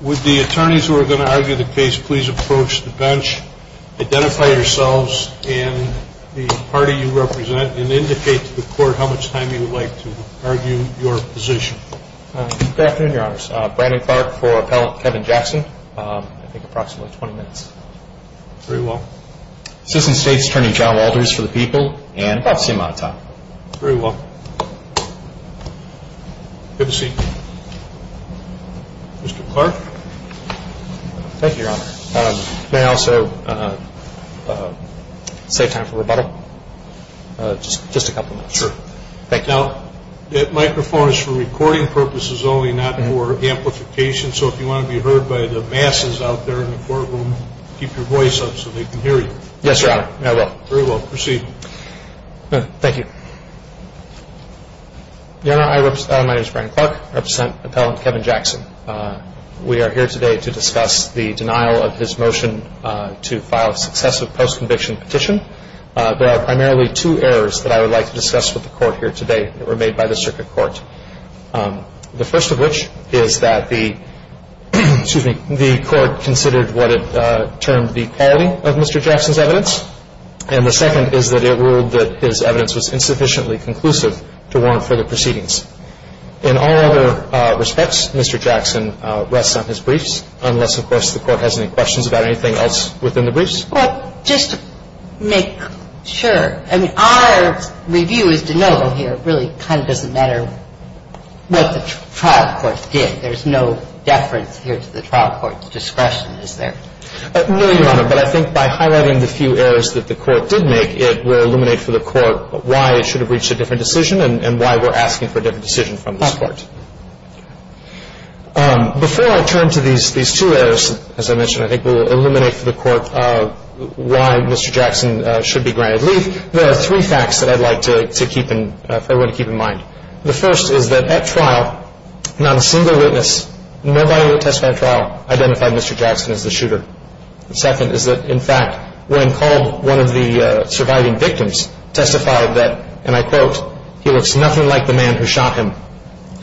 Would the attorneys who are going to argue the case please approach the bench, identify yourselves and the party you represent, and indicate to the court how much time you would like to argue your position. Good afternoon, your honors. Brandon Clark for appellate Kevin Jackson. I think approximately 20 minutes. Very well. Assistant State's Attorney John Walters for appellate Kevin Jackson. Very well. Good to see you. Mr. Clark? Thank you, your honor. May I also save time for rebuttal? Just a couple of minutes. Sure. Thank you. Now, that microphone is for recording purposes only, not for amplification, so if you want to be heard by the masses out there in the courtroom, keep your voice up so they can hear you. Yes, your honor. I will. Very well. Proceed. Thank you. Your honor, my name is Brandon Clark. I represent appellate Kevin Jackson. We are here today to discuss the denial of his motion to file a successive post-conviction petition. There are primarily two errors that I would like to discuss with the court here today that were made by the circuit court. The first of which is that the court considered what it termed the quality of Mr. Jackson's evidence, and the second is that it ruled that his evidence was insufficiently conclusive to warrant further proceedings. In all other respects, Mr. Jackson rests on his briefs, unless, of course, the court has any questions about anything else within the briefs. Well, just to make sure, I mean, our review is to know here really kind of doesn't matter what the trial court did. There's no deference here to the trial court's discretion, is there? No, your honor, but I think by highlighting the few errors that the court did make, it will illuminate for the court why it should have reached a different decision and why we're asking for a different decision from this court. Before I turn to these two errors, as I mentioned, I think it will illuminate for the court why Mr. Jackson should be granted leave, there are three facts that I'd like to keep in mind. The first is that at trial, not a single witness, nobody who attested at trial identified Mr. Jackson as the shooter. The second is that, in fact, when called one of the surviving victims, testified that, and I quote, he looks nothing like the man who shot him.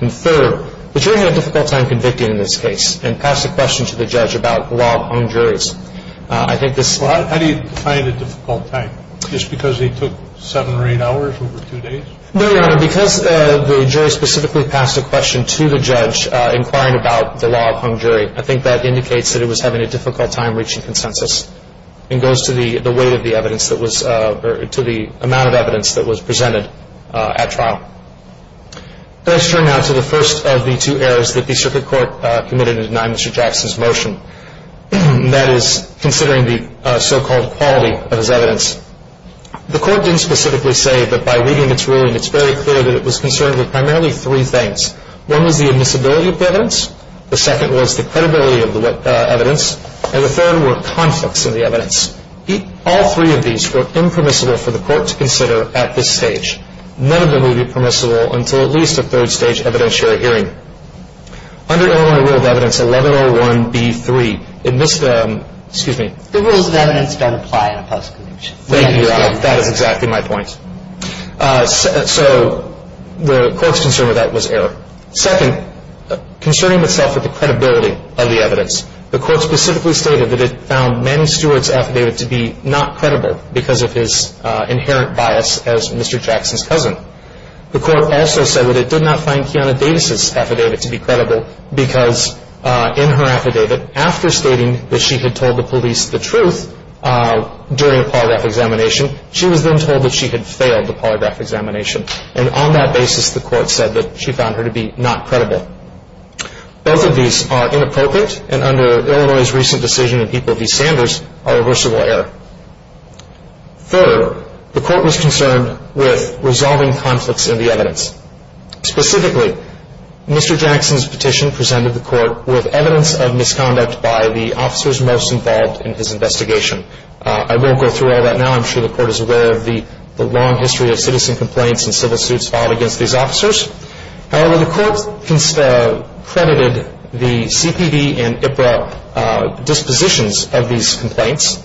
And third, the jury had a difficult time convicting in this case and passed a question to the judge about law on juries. I think this- Well, how do you define a difficult time? Just because he took seven or eight hours over two days? No, your honor, because the jury specifically passed a question to the judge inquiring about the law upon jury, I think that indicates that it was having a difficult time reaching consensus and goes to the weight of the evidence that was- to the amount of evidence that was presented at trial. Let's turn now to the first of the two errors that the circuit court committed in denying Mr. Jackson's motion. That is, considering the so-called quality of his evidence. The court didn't specifically say that by the way, it was concerned with primarily three things. One was the admissibility of the evidence, the second was the credibility of the evidence, and the third were conflicts in the evidence. All three of these were impermissible for the court to consider at this stage. None of them would be permissible until at least a third stage evidentiary hearing. Under Illinois Rule of Evidence 1101B3, admiss- excuse me. The rules of evidence don't apply in a post-conviction. Thank you, Your Honor. That is exactly my point. So the court's concern with that was error. Second, concerning itself with the credibility of the evidence, the court specifically stated that it found Manny Stewart's affidavit to be not credible because of his inherent bias as Mr. Jackson's cousin. The court also said that it did not find Kiana Davis's affidavit to be credible because in her affidavit, after stating that she had told the police the truth during a polygraph examination, she was then told that she had failed the polygraph examination. And on that basis, the court said that she found her to be not credible. Both of these are inappropriate, and under Illinois' recent decision in People v. Sanders, are reversible error. Third, the court was concerned with resolving conflicts in the evidence. Specifically, Mr. Jackson's petition presented the court with evidence of misconduct by the officers most involved in his investigation. I won't go through all that now. I'm sure the court is aware of the long history of citizen complaints and civil suits filed against these officers. However, the court credited the CPD and IPRA dispositions of these complaints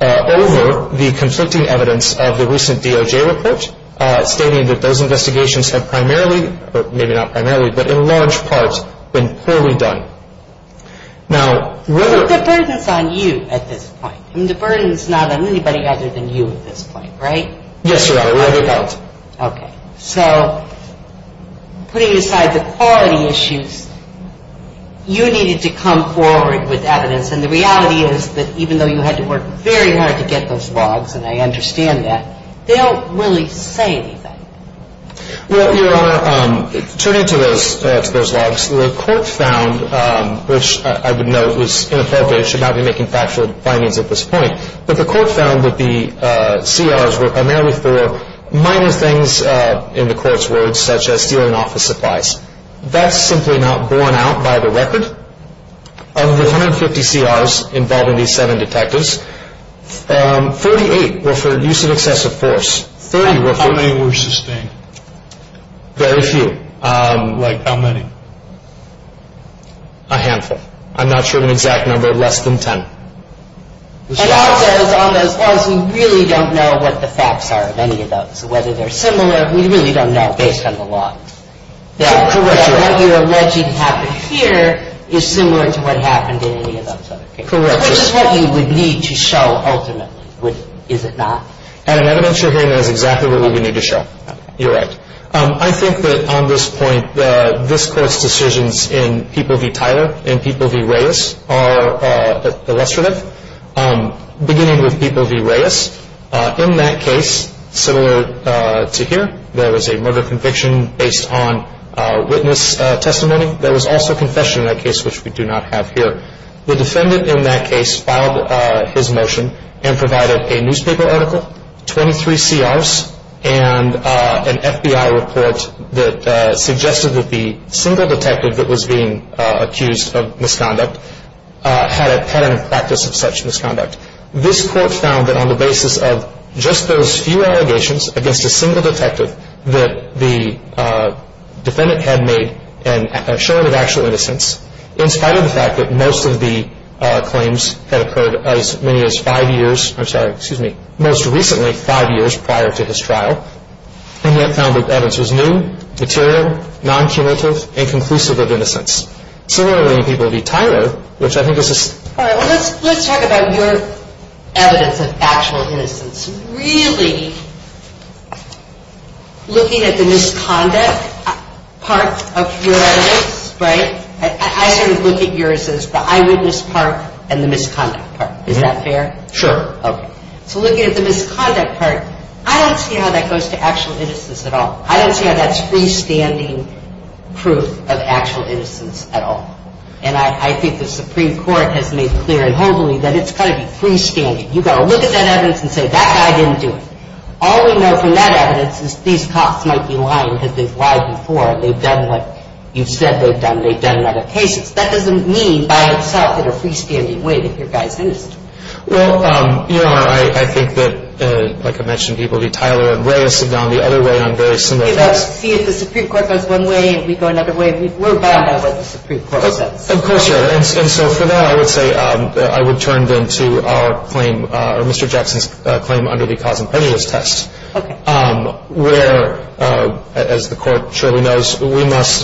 over the conflicting evidence of the recent DOJ report, stating that those investigations have primarily, or maybe not primarily, but in large part, been poorly done. Now, whether... But the burden's on you at this point. I mean, the burden's not on anybody other than you at this point, right? Yes, Your Honor, it really is. Okay. So, putting aside the quality issues, you needed to come forward with evidence, and the reality is that even though you had to work very hard to get those logs, and I understand that, they don't really say anything. Well, Your Honor, turning to those logs, the court found, which I would note was inappropriate, should not be making factual findings at this point, but the court found that the CRs were primarily for minor things in the court's words, such as stealing office supplies. That's simply not borne out by the record. Of the 150 CRs involved in these seven detectives, 48 were for use of excessive force. Thirty were for... Interesting. Very few. Like, how many? A handful. I'm not sure of an exact number of less than ten. And also, as long as we really don't know what the facts are of any of those, whether they're similar, we really don't know, based on the log. Correct, Your Honor. What you're alleging happened here is similar to what happened in any of those other cases. Correct. Which is what you would need to show ultimately, is it not? And in evidence you're hearing, that is exactly what we would need to show. You're right. I think that on this point, this Court's decisions in P.V. Tyler and P.V. Reyes are illustrative. Beginning with P.V. Reyes, in that case, similar to here, there was a murder conviction based on witness testimony. There was also confession in that case, which we do not have here. The defendant in that case filed his motion and provided a newspaper article, 23 C.R.s., and an F.B.I. report that suggested that the single detective that was being accused of misconduct had a pattern of practice of such misconduct. This Court found that on the basis of just those few allegations against a single detective that the defendant had made an assurance of actual innocence, in spite of the fact that most of the claims had occurred as many as five years, I'm sorry, excuse me, most recently, five years prior to his trial, and yet found that evidence was new, material, non-cumulative, and conclusive of innocence. Similarly, in P.V. Tyler, which I think is a... All right. Well, let's talk about your evidence of actual innocence. Really looking at the misconduct part of your evidence, right? I sort of look at yours as the eyewitness part and the misconduct part. Is that fair? Sure. Okay. So looking at the misconduct part, I don't see how that goes to actual innocence at all. I don't see how that's freestanding proof of actual innocence at all. And I think the Supreme Court has made clear and openly that it's got to be freestanding. You've got to look at that evidence and say, that guy didn't do it. All we know from that evidence is these cops might be lying because they've lied before, and they've done what you've said they've done. They've done in other cases. That doesn't mean by itself in a freestanding way that your guy's innocent. Well, you know, I think that, like I mentioned, P.V. Tyler and Reyes have gone the other way on very similar claims. See, if the Supreme Court goes one way and we go another way, we're bound by what the Supreme Court says. Of course you are. And so for that, I would say I would turn then to our claim under the cause and prejudice test, where, as the Court surely knows, we must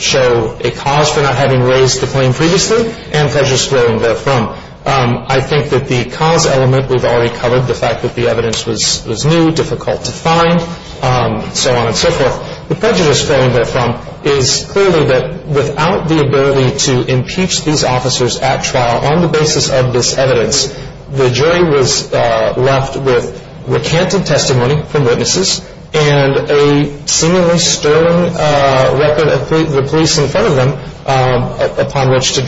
show a cause for not having raised the claim previously and prejudice wherein therefrom. I think that the cause element we've already covered, the fact that the evidence was new, difficult to find, so on and so forth. The prejudice wherein therefrom is clearly that without the ability to impeach these officers at trial on the basis of this evidence, the jury was left with recanted testimony from witnesses and a seemingly sterling record of the police in front of them upon which to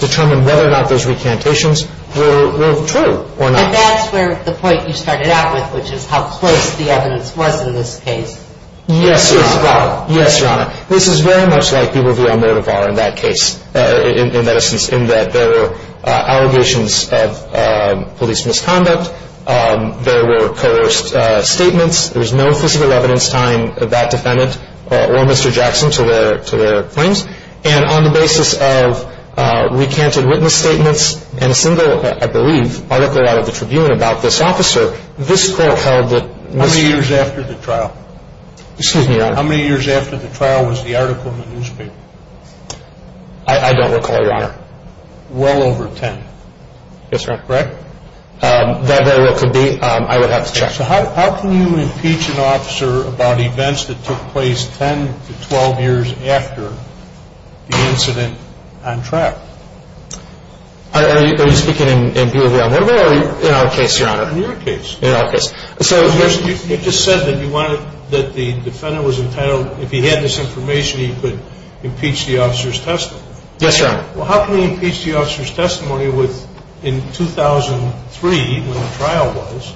determine whether or not those recantations were true or not. And that's where the point you started out with, which is how close the evidence was in this case. Yes, Your Honor. Yes, Your Honor. This is very much like B. Roviel-Motivar in Yes. Yes. Yes. Yes. Yes. Yes. Yes. Yes. Yes. Yes. Yes. Yes. Yes. Yes, I just want to make it clear that on the grounds of the case in question, there were no speeches of one and two, there were no と ere ministerial police misconduct, there were coerced statements. There is no physical evidence tying that defendant or Mr. Jackson to their claims, and on the basis of recanted witness statements and a single, I believe, article out of the Tribune about this officer, this court held that Mr. How many years after the trial? Excuse me, Your Honor. How many years after the trial was the article in the newspaper? I don't recall, Your Honor. Well over ten. Yes, Your Honor. Correct? That very well could be. I would have to check. So how can you impeach an officer about events that took place ten to twelve years after the incident on trial? Are you speaking in view of your own memory or in our case, Your Honor? In your case. In our case. So you just said that you wanted that the defendant was entitled, if he had this information, he could impeach the officer's testimony. Yes, Your Honor. Well, how can you impeach the officer's testimony in 2003, when the trial was,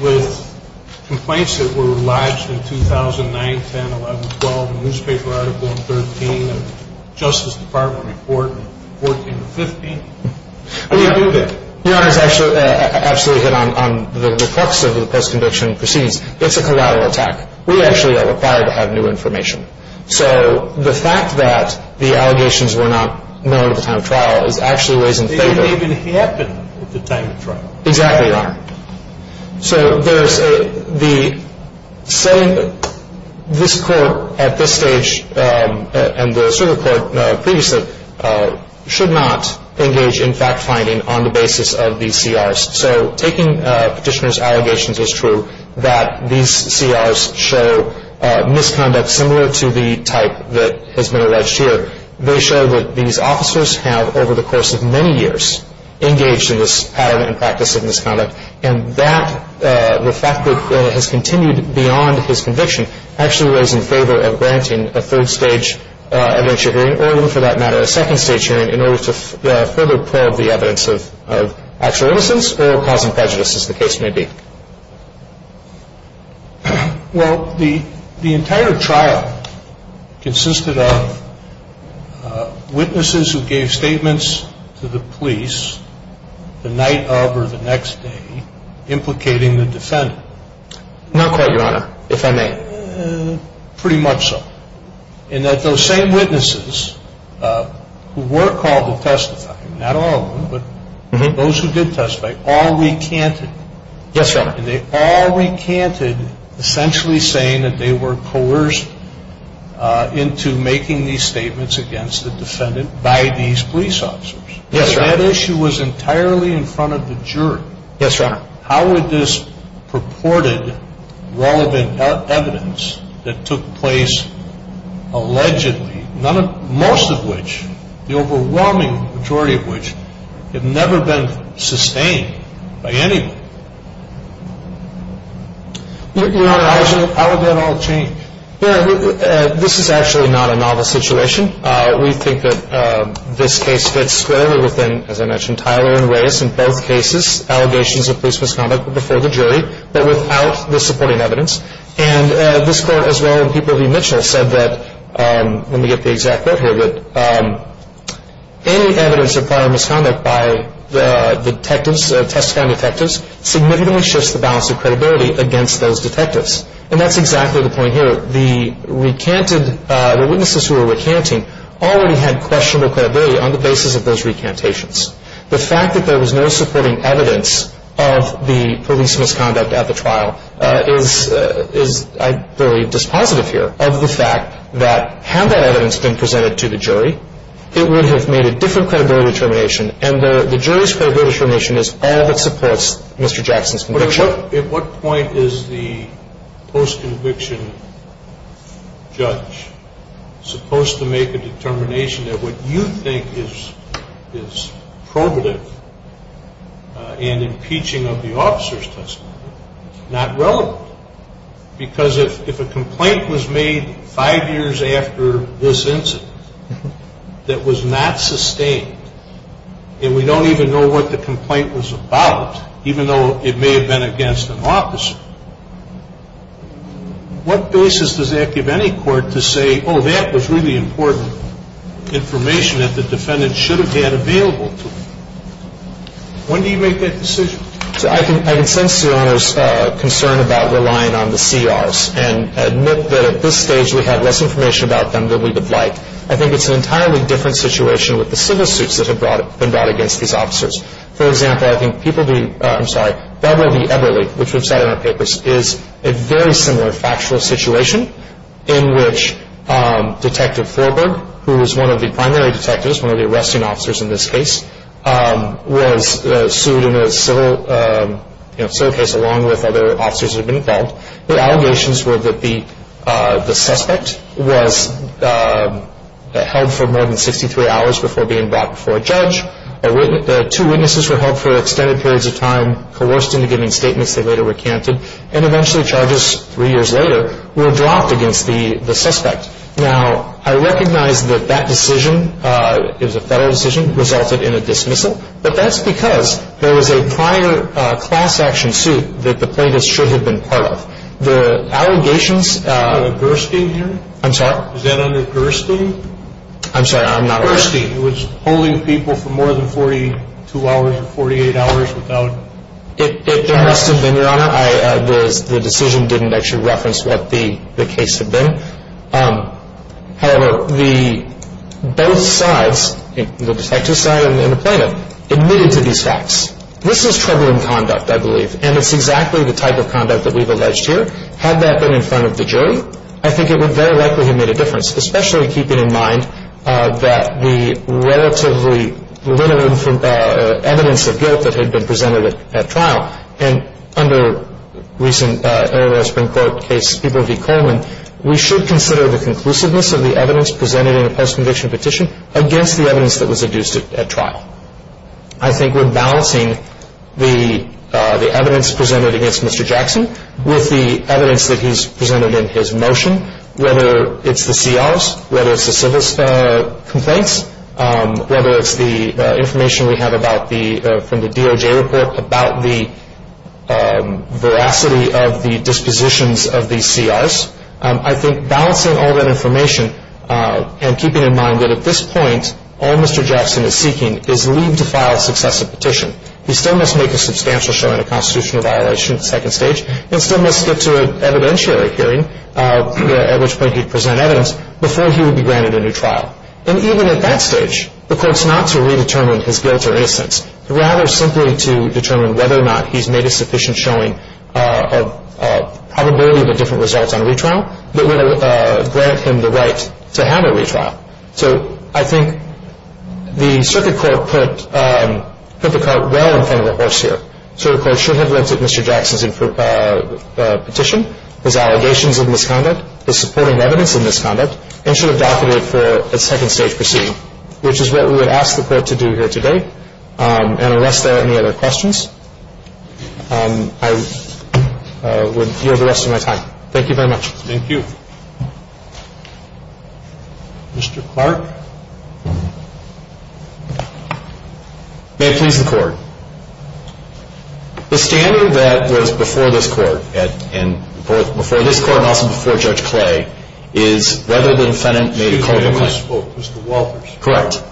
with complaints that were lodged in 2009, 10, 11, 12, and a newspaper article in 13, and a Justice Department report in 14, 15? Your Honor, I absolutely hit on the reflex of the post-conviction proceedings. It's a collateral attack. We actually are required to have new information. So the fact that the allegations were not known at the time of trial is actually a ways in favor. They didn't even happen at the time of trial. Exactly, Your Honor. So there's a, the, say this court at this stage, and the circuit court previously, should not engage in fact-finding on the basis of these CRs. So taking Petitioner's allegations as true, that these CRs show misconduct similar to the type that has been alleged here. They show that these officers have, over the course of many years, engaged in this pattern and practice of misconduct. And that, the fact that it has continued beyond his conviction, actually lays in favor of granting a third-stage evidentiary hearing, or even for that matter, a second-stage hearing, in order to further probe the evidence of actual innocence, or causing prejudice, as the case may be. Well, the entire trial consisted of witnesses who gave statements to the police the night of, or the next day, implicating the defendant. Not quite, Your Honor, if I may. Pretty much so. And that those same witnesses, who were called to testify, not all of them, but those who did testify, all recanted. Yes, Your Honor. And they all recanted, essentially saying that they were coerced into making these statements against the defendant by these police officers. Yes, Your Honor. That issue was entirely in front of the jury. Yes, Your Honor. How would this purported relevant evidence that took place allegedly, most of which, the overwhelming majority of which, have never been sustained by anyone? Your Honor, how would that all change? This is actually not a novel situation. We think that this case fits squarely within, as I mentioned, Tyler and Reyes. In both cases, allegations of police misconduct were before the jury, but without the supporting evidence. And this Court, as well as the people of E. Mitchell, said that, let me get the exact quote here, that any evidence of prior misconduct by the detectives, testifying detectives, significantly shifts the balance of credibility against those detectives. And that's exactly the point here. The recanted, the witnesses who were recanting already had questionable credibility on the basis of those recantations. The fact that there was no supporting evidence of the police misconduct at the trial is, I believe, dispositive here of the fact that, had that evidence been presented to the jury, it would have made a different credibility determination. And the jury's credibility determination is all that supports Mr. Jackson's conviction. At what point is the post-conviction judge supposed to make a determination that what you think is probative and impeaching of the officer's testimony is not relevant? Because if a complaint was made five years after this incident that was not sustained, and we don't even know what the complaint was about, even though it may have been against an officer, what basis does that give any court to say, oh, that was really important information that the defendant should have had available to him? When do you make that decision? I can sense the Honor's concern about relying on the CRs and admit that at this stage we had less information about them than we would like. I think it's an entirely different situation with the civil suits that have been brought against these officers. For example, I think Beverly Eberle, which we've said in our papers, is a very similar factual situation in which Detective Thorberg, who was one of the primary detectives, one of the arresting officers in this case, was sued in a civil case along with other officers who had been involved. The allegations were that the suspect was held for more than 63 hours before being brought before a judge. Two witnesses were held for extended periods of time, coerced into giving statements that later were canted, and eventually charges three years later were dropped against the suspect. Now, I recognize that that decision, it was a federal decision, resulted in a dismissal, but that's because there was a prior class action suit that the plaintiffs should have been part of. The allegations... Is that under Gerstein here? I'm sorry? Is that under Gerstein? I'm sorry, I'm not aware. Gerstein, who was holding people for more than 42 hours or 48 hours without charges. It must have been, Your Honor. The decision didn't actually reference what the case had been. However, both sides, the detective side and the plaintiff, admitted to these facts. This is troubling conduct, I believe, and it's exactly the type of conduct that we've alleged here. Had that been in front of the jury, I think it would very likely have made a difference, especially keeping in mind that the relatively limited evidence of guilt that had been presented at trial, and under recent Illinois Supreme Court case, People v. Coleman, we should consider the conclusiveness of the evidence presented in the post-conviction petition against the evidence that was adduced at trial. I think we're balancing the evidence presented against Mr. Jackson with the evidence that he's presented in his motion, whether it's the CRs, whether it's the civil complaints, whether it's the information we have from the DOJ report about the veracity of the dispositions of the CRs. I think balancing all that information and keeping in mind that at this point, all Mr. Jackson is seeking is leave to file successive petition. He still must make a substantial showing of constitutional violation at the second stage and still must get to an evidentiary hearing, at which point he'd present evidence, before he would be granted a new trial. And even at that stage, the court's not to redetermine his guilt or innocence. Rather, simply to determine whether or not he's made a sufficient showing of probability of a different result on retrial that would grant him the right to have a retrial. So I think the circuit court put the cart well in front of the horse here. The circuit court should have looked at Mr. Jackson's petition, his allegations of misconduct, his supporting evidence of misconduct, and should have docketed it for a second stage proceeding, which is what we would ask the court to do here today. And unless there are any other questions, I would yield the rest of my time. Thank you very much. Thank you. Mr. Clark. May it please the Court. The standard that was before this Court, and before this Court and also before Judge Clay, is whether the defendant made a culpable claim. Excuse me. I almost spoke. Mr. Walters. Correct.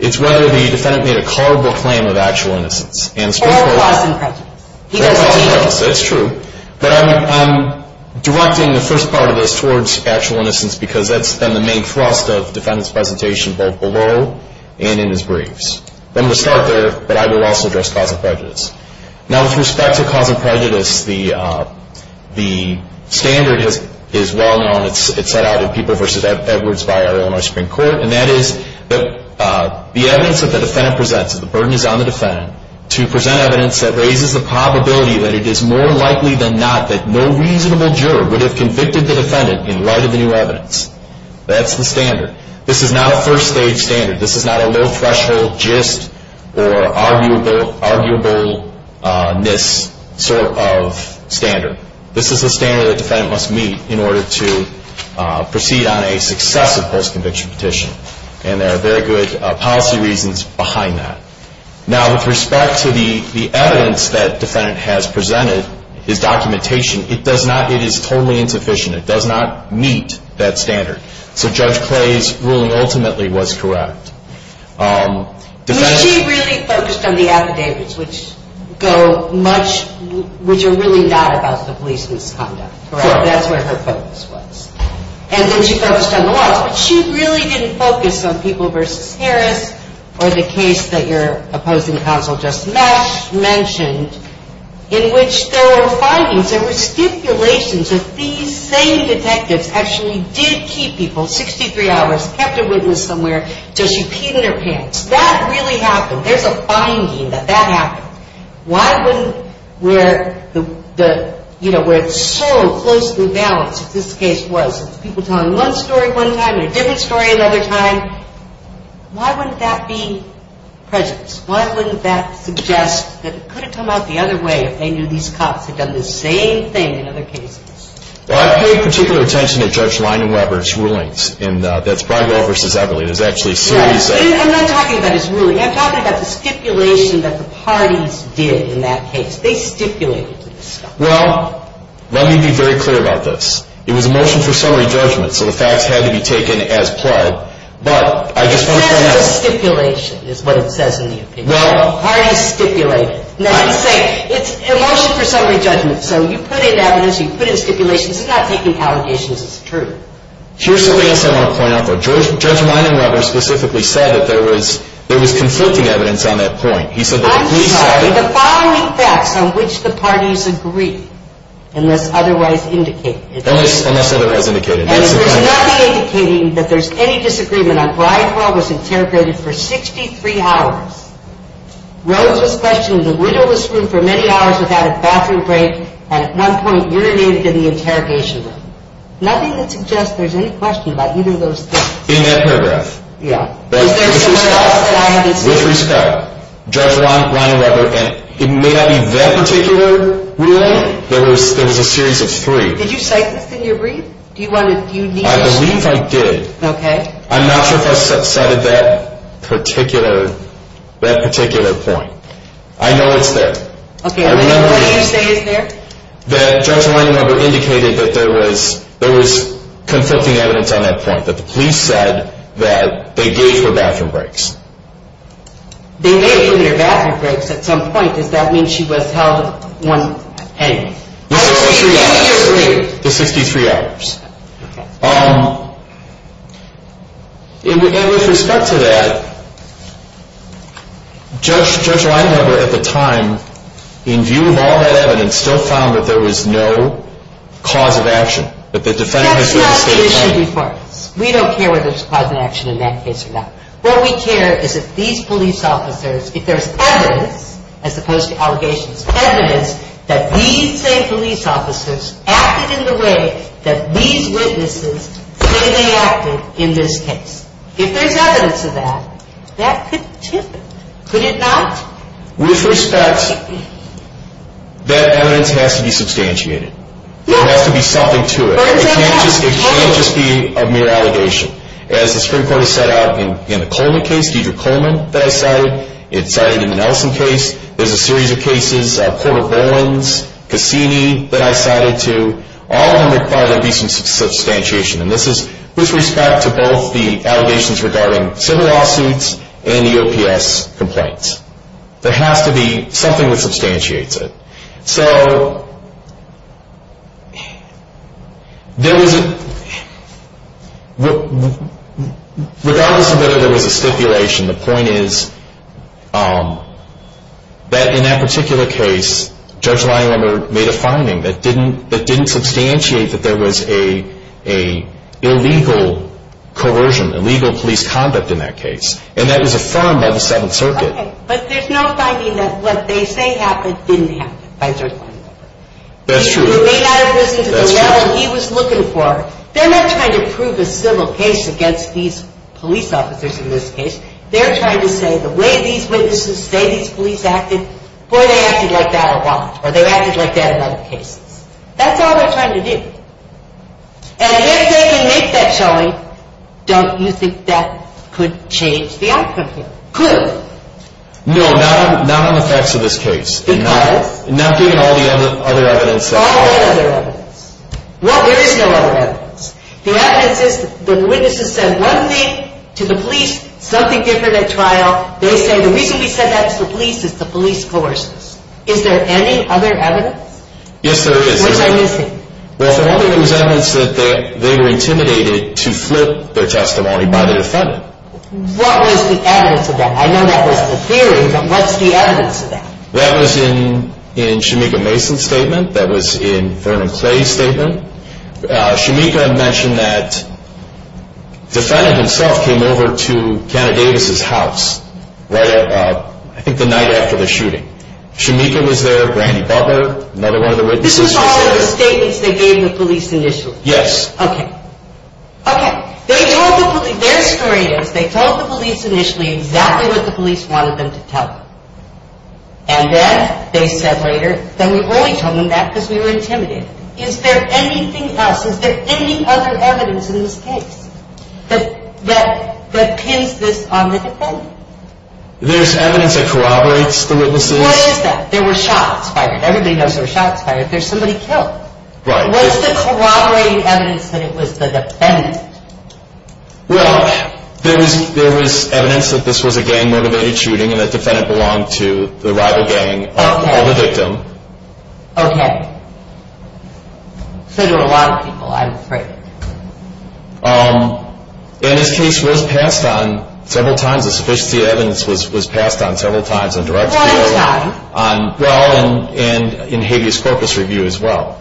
It's whether the defendant made a culpable claim of actual innocence. Or a cause in prejudice. Or a cause in prejudice. That's true. But I'm directing the first part of this towards actual innocence, because that's then the main thrust of the defendant's presentation both below and in his briefs. I'm going to start there, but I will also address cause in prejudice. Now, with respect to cause in prejudice, the standard is well known. It's set out in People v. Edwards by our Illinois Supreme Court, and that is that the evidence that the defendant presents, if the burden is on the defendant, to present evidence that raises the probability that it is more likely than not that no reasonable juror would have convicted the defendant in light of the new evidence. That's the standard. This is not a first stage standard. This is not a low-threshold gist or arguable-ness sort of standard. This is a standard that the defendant must meet in order to proceed on a successive post-conviction petition. And there are very good policy reasons behind that. Now, with respect to the evidence that the defendant has presented, his documentation, it is totally insufficient. It does not meet that standard. So Judge Clay's ruling ultimately was correct. Was she really focused on the affidavits, which are really not about the police misconduct? Correct. That's where her focus was. And then she focused on the laws, but she really didn't focus on People v. Harris or the case that your opposing counsel just mentioned, in which there were findings, there were stipulations that these same detectives actually did keep people 63 hours, kept a witness somewhere until she peed in their pants. That really happened. There's a finding that that happened. Why wouldn't where the, you know, where it's so close to the balance, if this case was people telling one story one time and a different story another time, why wouldn't that be present? Why wouldn't that suggest that it could have come out the other way if they knew these cops had done the same thing in other cases? Well, I paid particular attention to Judge Leinan-Weber's rulings, and that's Breyer v. Eberle. It is actually seriously. I'm not talking about his ruling. I'm talking about the stipulation that the parties did in that case. They stipulated this stuff. Well, let me be very clear about this. It was a motion for summary judgment, so the facts had to be taken as plied. But I just want to point out. It says it's a stipulation is what it says in the opinion. Well, the parties stipulated. It's a motion for summary judgment, so you put in evidence, you put in stipulations. It's not taking allegations. It's true. Here's something else I want to point out, though. Judge Leinan-Weber specifically said that there was conflicting evidence on that point. I'm sorry. The following facts on which the parties agree, unless otherwise indicated. Unless otherwise indicated. And there's nothing indicating that there's any disagreement on Breyer v. Eberle was interrogated for 63 hours. Rose was questioned in the widowless room for many hours without a bathroom break and at one point urinated in the interrogation room. Nothing that suggests there's any question about either of those things. In that paragraph. Yeah. Is there someone else that I haven't seen? With respect, Judge Leinan-Weber, and it may not be that particular ruling. There was a series of three. Did you cite this in your brief? I believe I did. Okay. I'm not sure if I cited that particular point. I know it's there. Okay. I know what you say is there. That Judge Leinan-Weber indicated that there was conflicting evidence on that point. That the police said that they gave her bathroom breaks. They gave her bathroom breaks at some point. Does that mean she was held one heading? The 63 hours. The 63 hours. Okay. And with respect to that, Judge Leinan-Weber at the time, in view of all that evidence, still found that there was no cause of action. That the defendant was going to stay at home. That's not the issue before us. We don't care whether there's cause of action in that case or not. What we care is if these police officers, if there's evidence, as opposed to allegations, evidence that these same police officers acted in the way that these witnesses clearly acted in this case. If there's evidence of that, that could tip it. Could it not? With respect, that evidence has to be substantiated. There has to be something to it. It can't just be a mere allegation. As the Supreme Court has set out in the Coleman case, Deidre Coleman that I cited, it's cited in the Nelson case. There's a series of cases, Porter-Bowens, Cassini that I cited too. All of them require there to be some substantiation. And this is with respect to both the allegations regarding civil lawsuits and EOPS complaints. There has to be something that substantiates it. So, regardless of whether there was a stipulation, the point is that in that particular case, Judge Leinwender made a finding that didn't substantiate that there was an illegal coercion, illegal police conduct in that case. And that was affirmed by the Seventh Circuit. Okay. But there's no finding that what they say happened didn't happen by Judge Leinwender. That's true. He was made out of prison to the level he was looking for. They're not trying to prove a civil case against these police officers in this case. They're trying to say the way these witnesses say these police acted, boy, they acted like that a lot, or they acted like that in other cases. That's all they're trying to do. And if they can make that showing, don't you think that could change the outcome here? Could. No, not on the facts of this case. Because? Not given all the other evidence. All the other evidence. Well, there is no other evidence. The evidence is that the witnesses said one thing to the police, something different at trial. They say the reason we said that to the police is the police coerced us. Is there any other evidence? Yes, there is. What's I missing? Well, for one thing, it was evidence that they were intimidated to flip their testimony by the defendant. What was the evidence of that? I know that was the theory, but what's the evidence of that? That was in Shemekah Mason's statement. That was in Thurman Clay's statement. Shemekah mentioned that the defendant himself came over to Canada Davis's house right at, I think, the night after the shooting. Shemekah was there, Randy Butler, another one of the witnesses. This was all in the statements they gave the police initially? Yes. Okay. Okay. Their story is they told the police initially exactly what the police wanted them to tell them. And then they said later, then we only told them that because we were intimidated. Is there anything else? Is there any other evidence in this case that pins this on the defendant? There's evidence that corroborates the witnesses. What is that? There were shots fired. Everybody knows there were shots fired. There's somebody killed. Right. What's the corroborating evidence that it was the defendant? Well, there was evidence that this was a gang-motivated shooting and the defendant belonged to the rival gang of the victim. Okay. So there were a lot of people, I'm afraid. And this case was passed on several times. The sufficiency of evidence was passed on several times on direct appeal. Well, it's not. Well, and in habeas corpus review as well.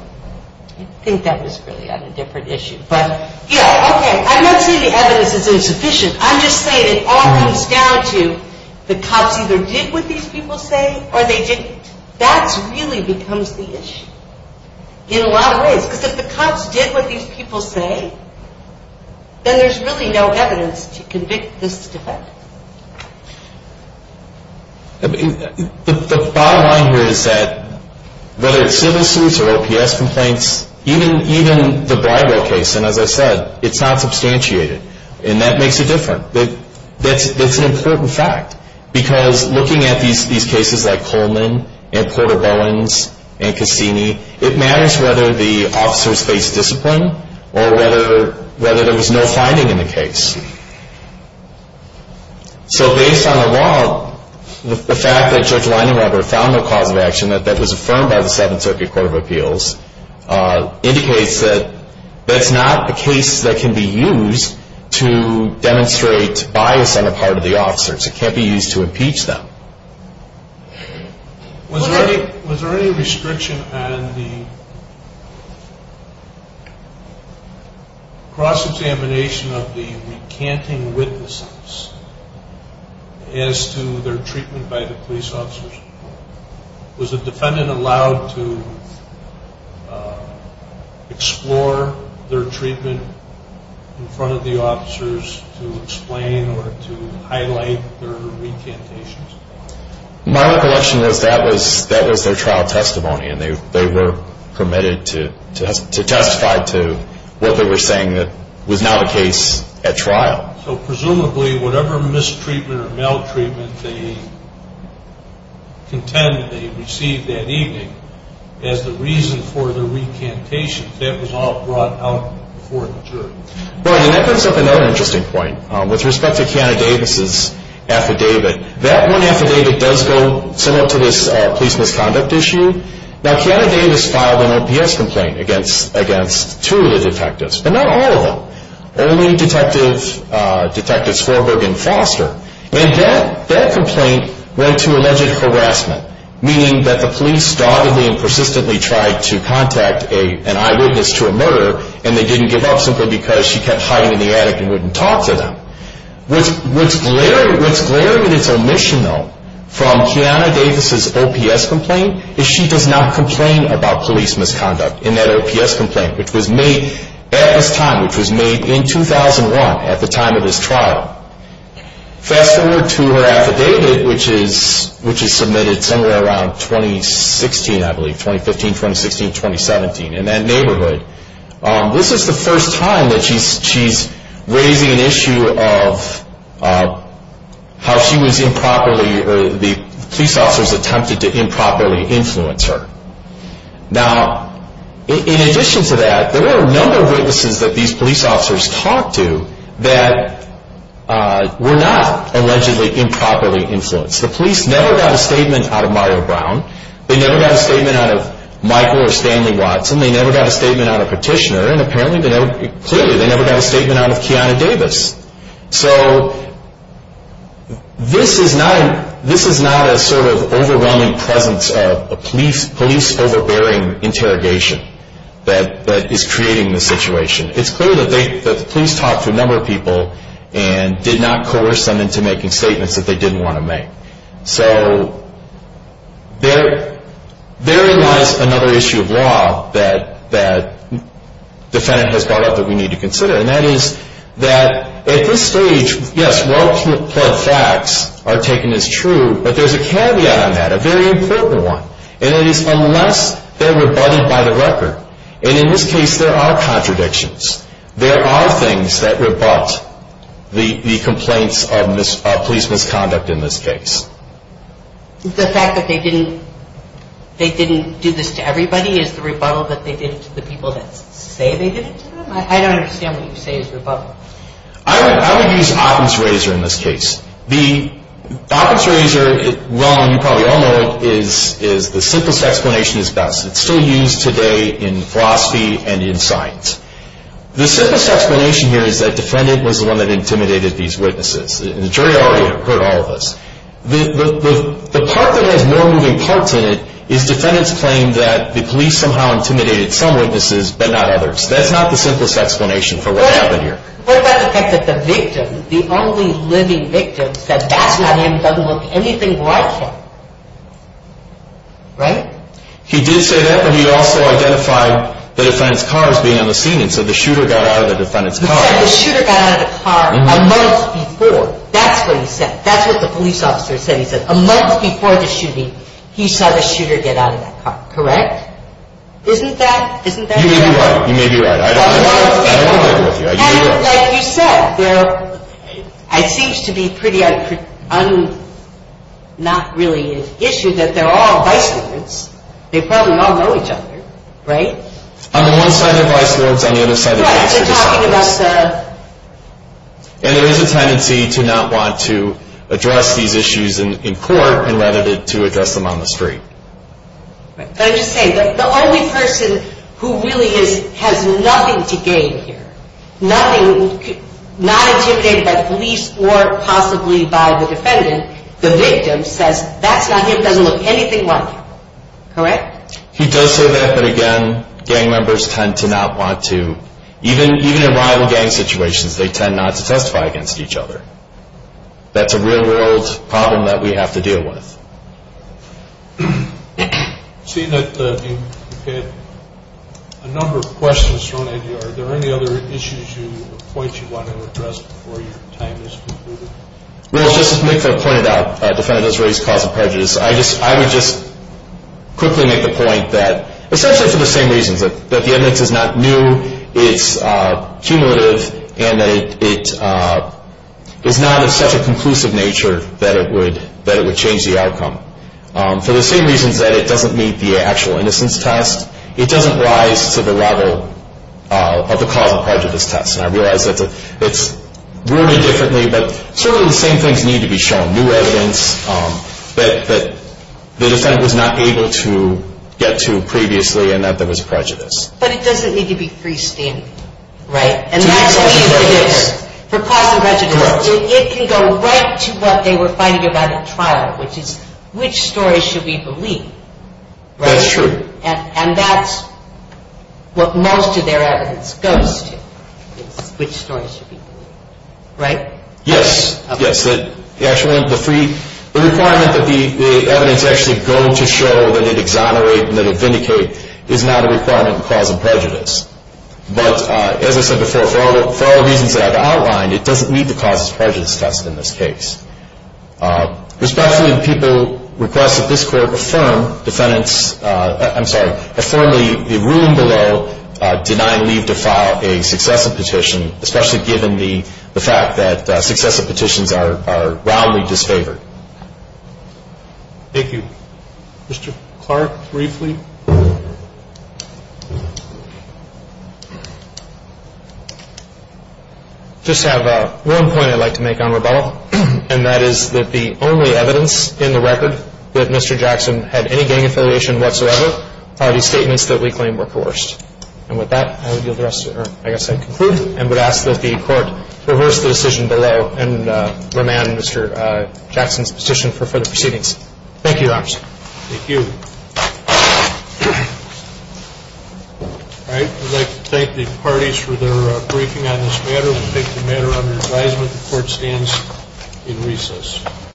I think that was really on a different issue. But, yeah, okay. I'm not saying the evidence is insufficient. I'm just saying it all comes down to the cops either did what these people say or they didn't. That really becomes the issue in a lot of ways because if the cops did what these people say, then there's really no evidence to convict this defendant. The bottom line here is that whether it's civil suits or OPS complaints, even the bribery case, and as I said, it's not substantiated, and that makes it different. That's an important fact because looking at these cases like Coleman and Porter-Bowens and Cassini, it matters whether the officers faced discipline or whether there was no finding in the case. So based on the law, the fact that Judge Leinenweber found no cause of action that was affirmed by the Seventh Circuit Court of Appeals indicates that that's not a case that can be used to demonstrate bias on the part of the officers. It can't be used to impeach them. Was there any restriction on the cross-examination of the recanting witnesses as to their treatment by the police officers? Was the defendant allowed to explore their treatment in front of the officers to explain or to highlight their recantations? My recollection is that was their trial testimony, and they were permitted to testify to what they were saying that was not the case at trial. So presumably, whatever mistreatment or maltreatment they contended they received that evening as the reason for the recantation, that was all brought out before the jury. Well, and that brings up another interesting point. With respect to Kiana Davis's affidavit, that one affidavit does go somewhat to this police misconduct issue. Now, Kiana Davis filed an OPS complaint against two of the detectives, but not all of them. Only Detective Swarberg and Foster, and that complaint went to alleged harassment, meaning that the police doggedly and persistently tried to contact an eyewitness to a murder, and they didn't give up simply because she kept hiding in the attic and wouldn't talk to them. What's glaring in its omission, though, from Kiana Davis's OPS complaint is she does not complain about police misconduct in that OPS complaint, which was made at this time, which was made in 2001, at the time of this trial. Fast forward to her affidavit, which is submitted somewhere around 2016, I believe, 2015, 2016, 2017, in that neighborhood. This is the first time that she's raising an issue of how she was improperly, or the police officers attempted to improperly influence her. Now, in addition to that, there were a number of witnesses that these police officers talked to that were not allegedly improperly influenced. The police never got a statement out of Mario Brown. They never got a statement out of Michael or Stanley Watson. They never got a statement out of Petitioner. And apparently, clearly, they never got a statement out of Kiana Davis. So this is not a sort of overwhelming presence of a police overbearing interrogation that is creating this situation. It's clear that the police talked to a number of people and did not coerce them into making statements that they didn't want to make. So therein lies another issue of law that the defendant has brought up that we need to consider, and that is that at this stage, yes, well-planned facts are taken as true, but there's a caveat on that, a very important one, and that is unless they're rebutted by the record. And in this case, there are contradictions. There are things that rebut the complaints of police misconduct in this case. The fact that they didn't do this to everybody is the rebuttal that they did it to the people that say they did it to them? I don't understand what you say is rebuttal. I would use Occam's razor in this case. The Occam's razor, well, you probably all know it, is the simplest explanation that's best. It's still used today in philosophy and in science. The simplest explanation here is that the defendant was the one that intimidated these witnesses, and the jury already heard all of this. The part that has more moving parts in it is the defendant's claim that the police somehow intimidated some witnesses but not others. That's not the simplest explanation for what happened here. What about the fact that the victim, the only living victim, said, that's not him, doesn't look anything like him, right? He did say that, but he also identified the defendant's car as being on the scene, and so the shooter got out of the defendant's car. He said the shooter got out of the car a month before. That's what he said. That's what the police officer said. He said a month before the shooting, he saw the shooter get out of that car, correct? Isn't that right? You may be right. You may be right. I don't want to argue with you. Like you said, it seems to be pretty un- not really an issue that they're all vice lords. They probably all know each other, right? On the one side, they're vice lords. On the other side, they're just officers. Right. They're talking about the- And there is a tendency to not want to address these issues in court rather than to address them on the street. But I'm just saying, the only person who really has nothing to gain here, nothing- not intimidated by the police or possibly by the defendant, the victim says that's not him, doesn't look anything like him. Correct? He does say that, but again, gang members tend to not want to- even in rival gang situations, they tend not to testify against each other. That's a real-world problem that we have to deal with. We've seen that you've had a number of questions thrown at you. Are there any other issues or points you want to address before your time is concluded? Well, just as Mick pointed out, defendants raise cause of prejudice. I would just quickly make the point that, essentially for the same reasons, that the evidence is not new, it's cumulative, and that it is not of such a conclusive nature that it would change the outcome. For the same reasons that it doesn't meet the actual innocence test, it doesn't rise to the level of the cause of prejudice test. And I realize that it's rumored differently, but certainly the same things need to be shown. New evidence that the defendant was not able to get to previously, and that there was prejudice. But it doesn't need to be freestanding, right? To the extent that it is. For cause of prejudice. Correct. So it can go right to what they were fighting about at trial, which is, which story should we believe? That's true. And that's what most of their evidence goes to, is which story should we believe. Right? Yes. The requirement that the evidence actually go to show that it exonerates and vindicates is not a requirement in cause of prejudice. But as I said before, for all the reasons that I've outlined, it doesn't meet the cause of prejudice test in this case. Respectfully, the people request that this Court affirm defendants, I'm sorry, affirm the ruling below denying leave to file a successive petition, especially given the fact that successive petitions are roundly disfavored. Thank you. Mr. Clark, briefly. I just have one point I'd like to make on rebuttal, and that is that the only evidence in the record that Mr. Jackson had any gang affiliation whatsoever are the statements that we claim were coerced. And with that, I would yield the rest, or I guess I'd conclude, and would ask that the Court reverse the decision below and remand Mr. Jackson's petition for further proceedings. Thank you, Your Honors. Thank you. All right. I'd like to thank the parties for their briefing on this matter. We'll take the matter under advisement. The Court stands in recess.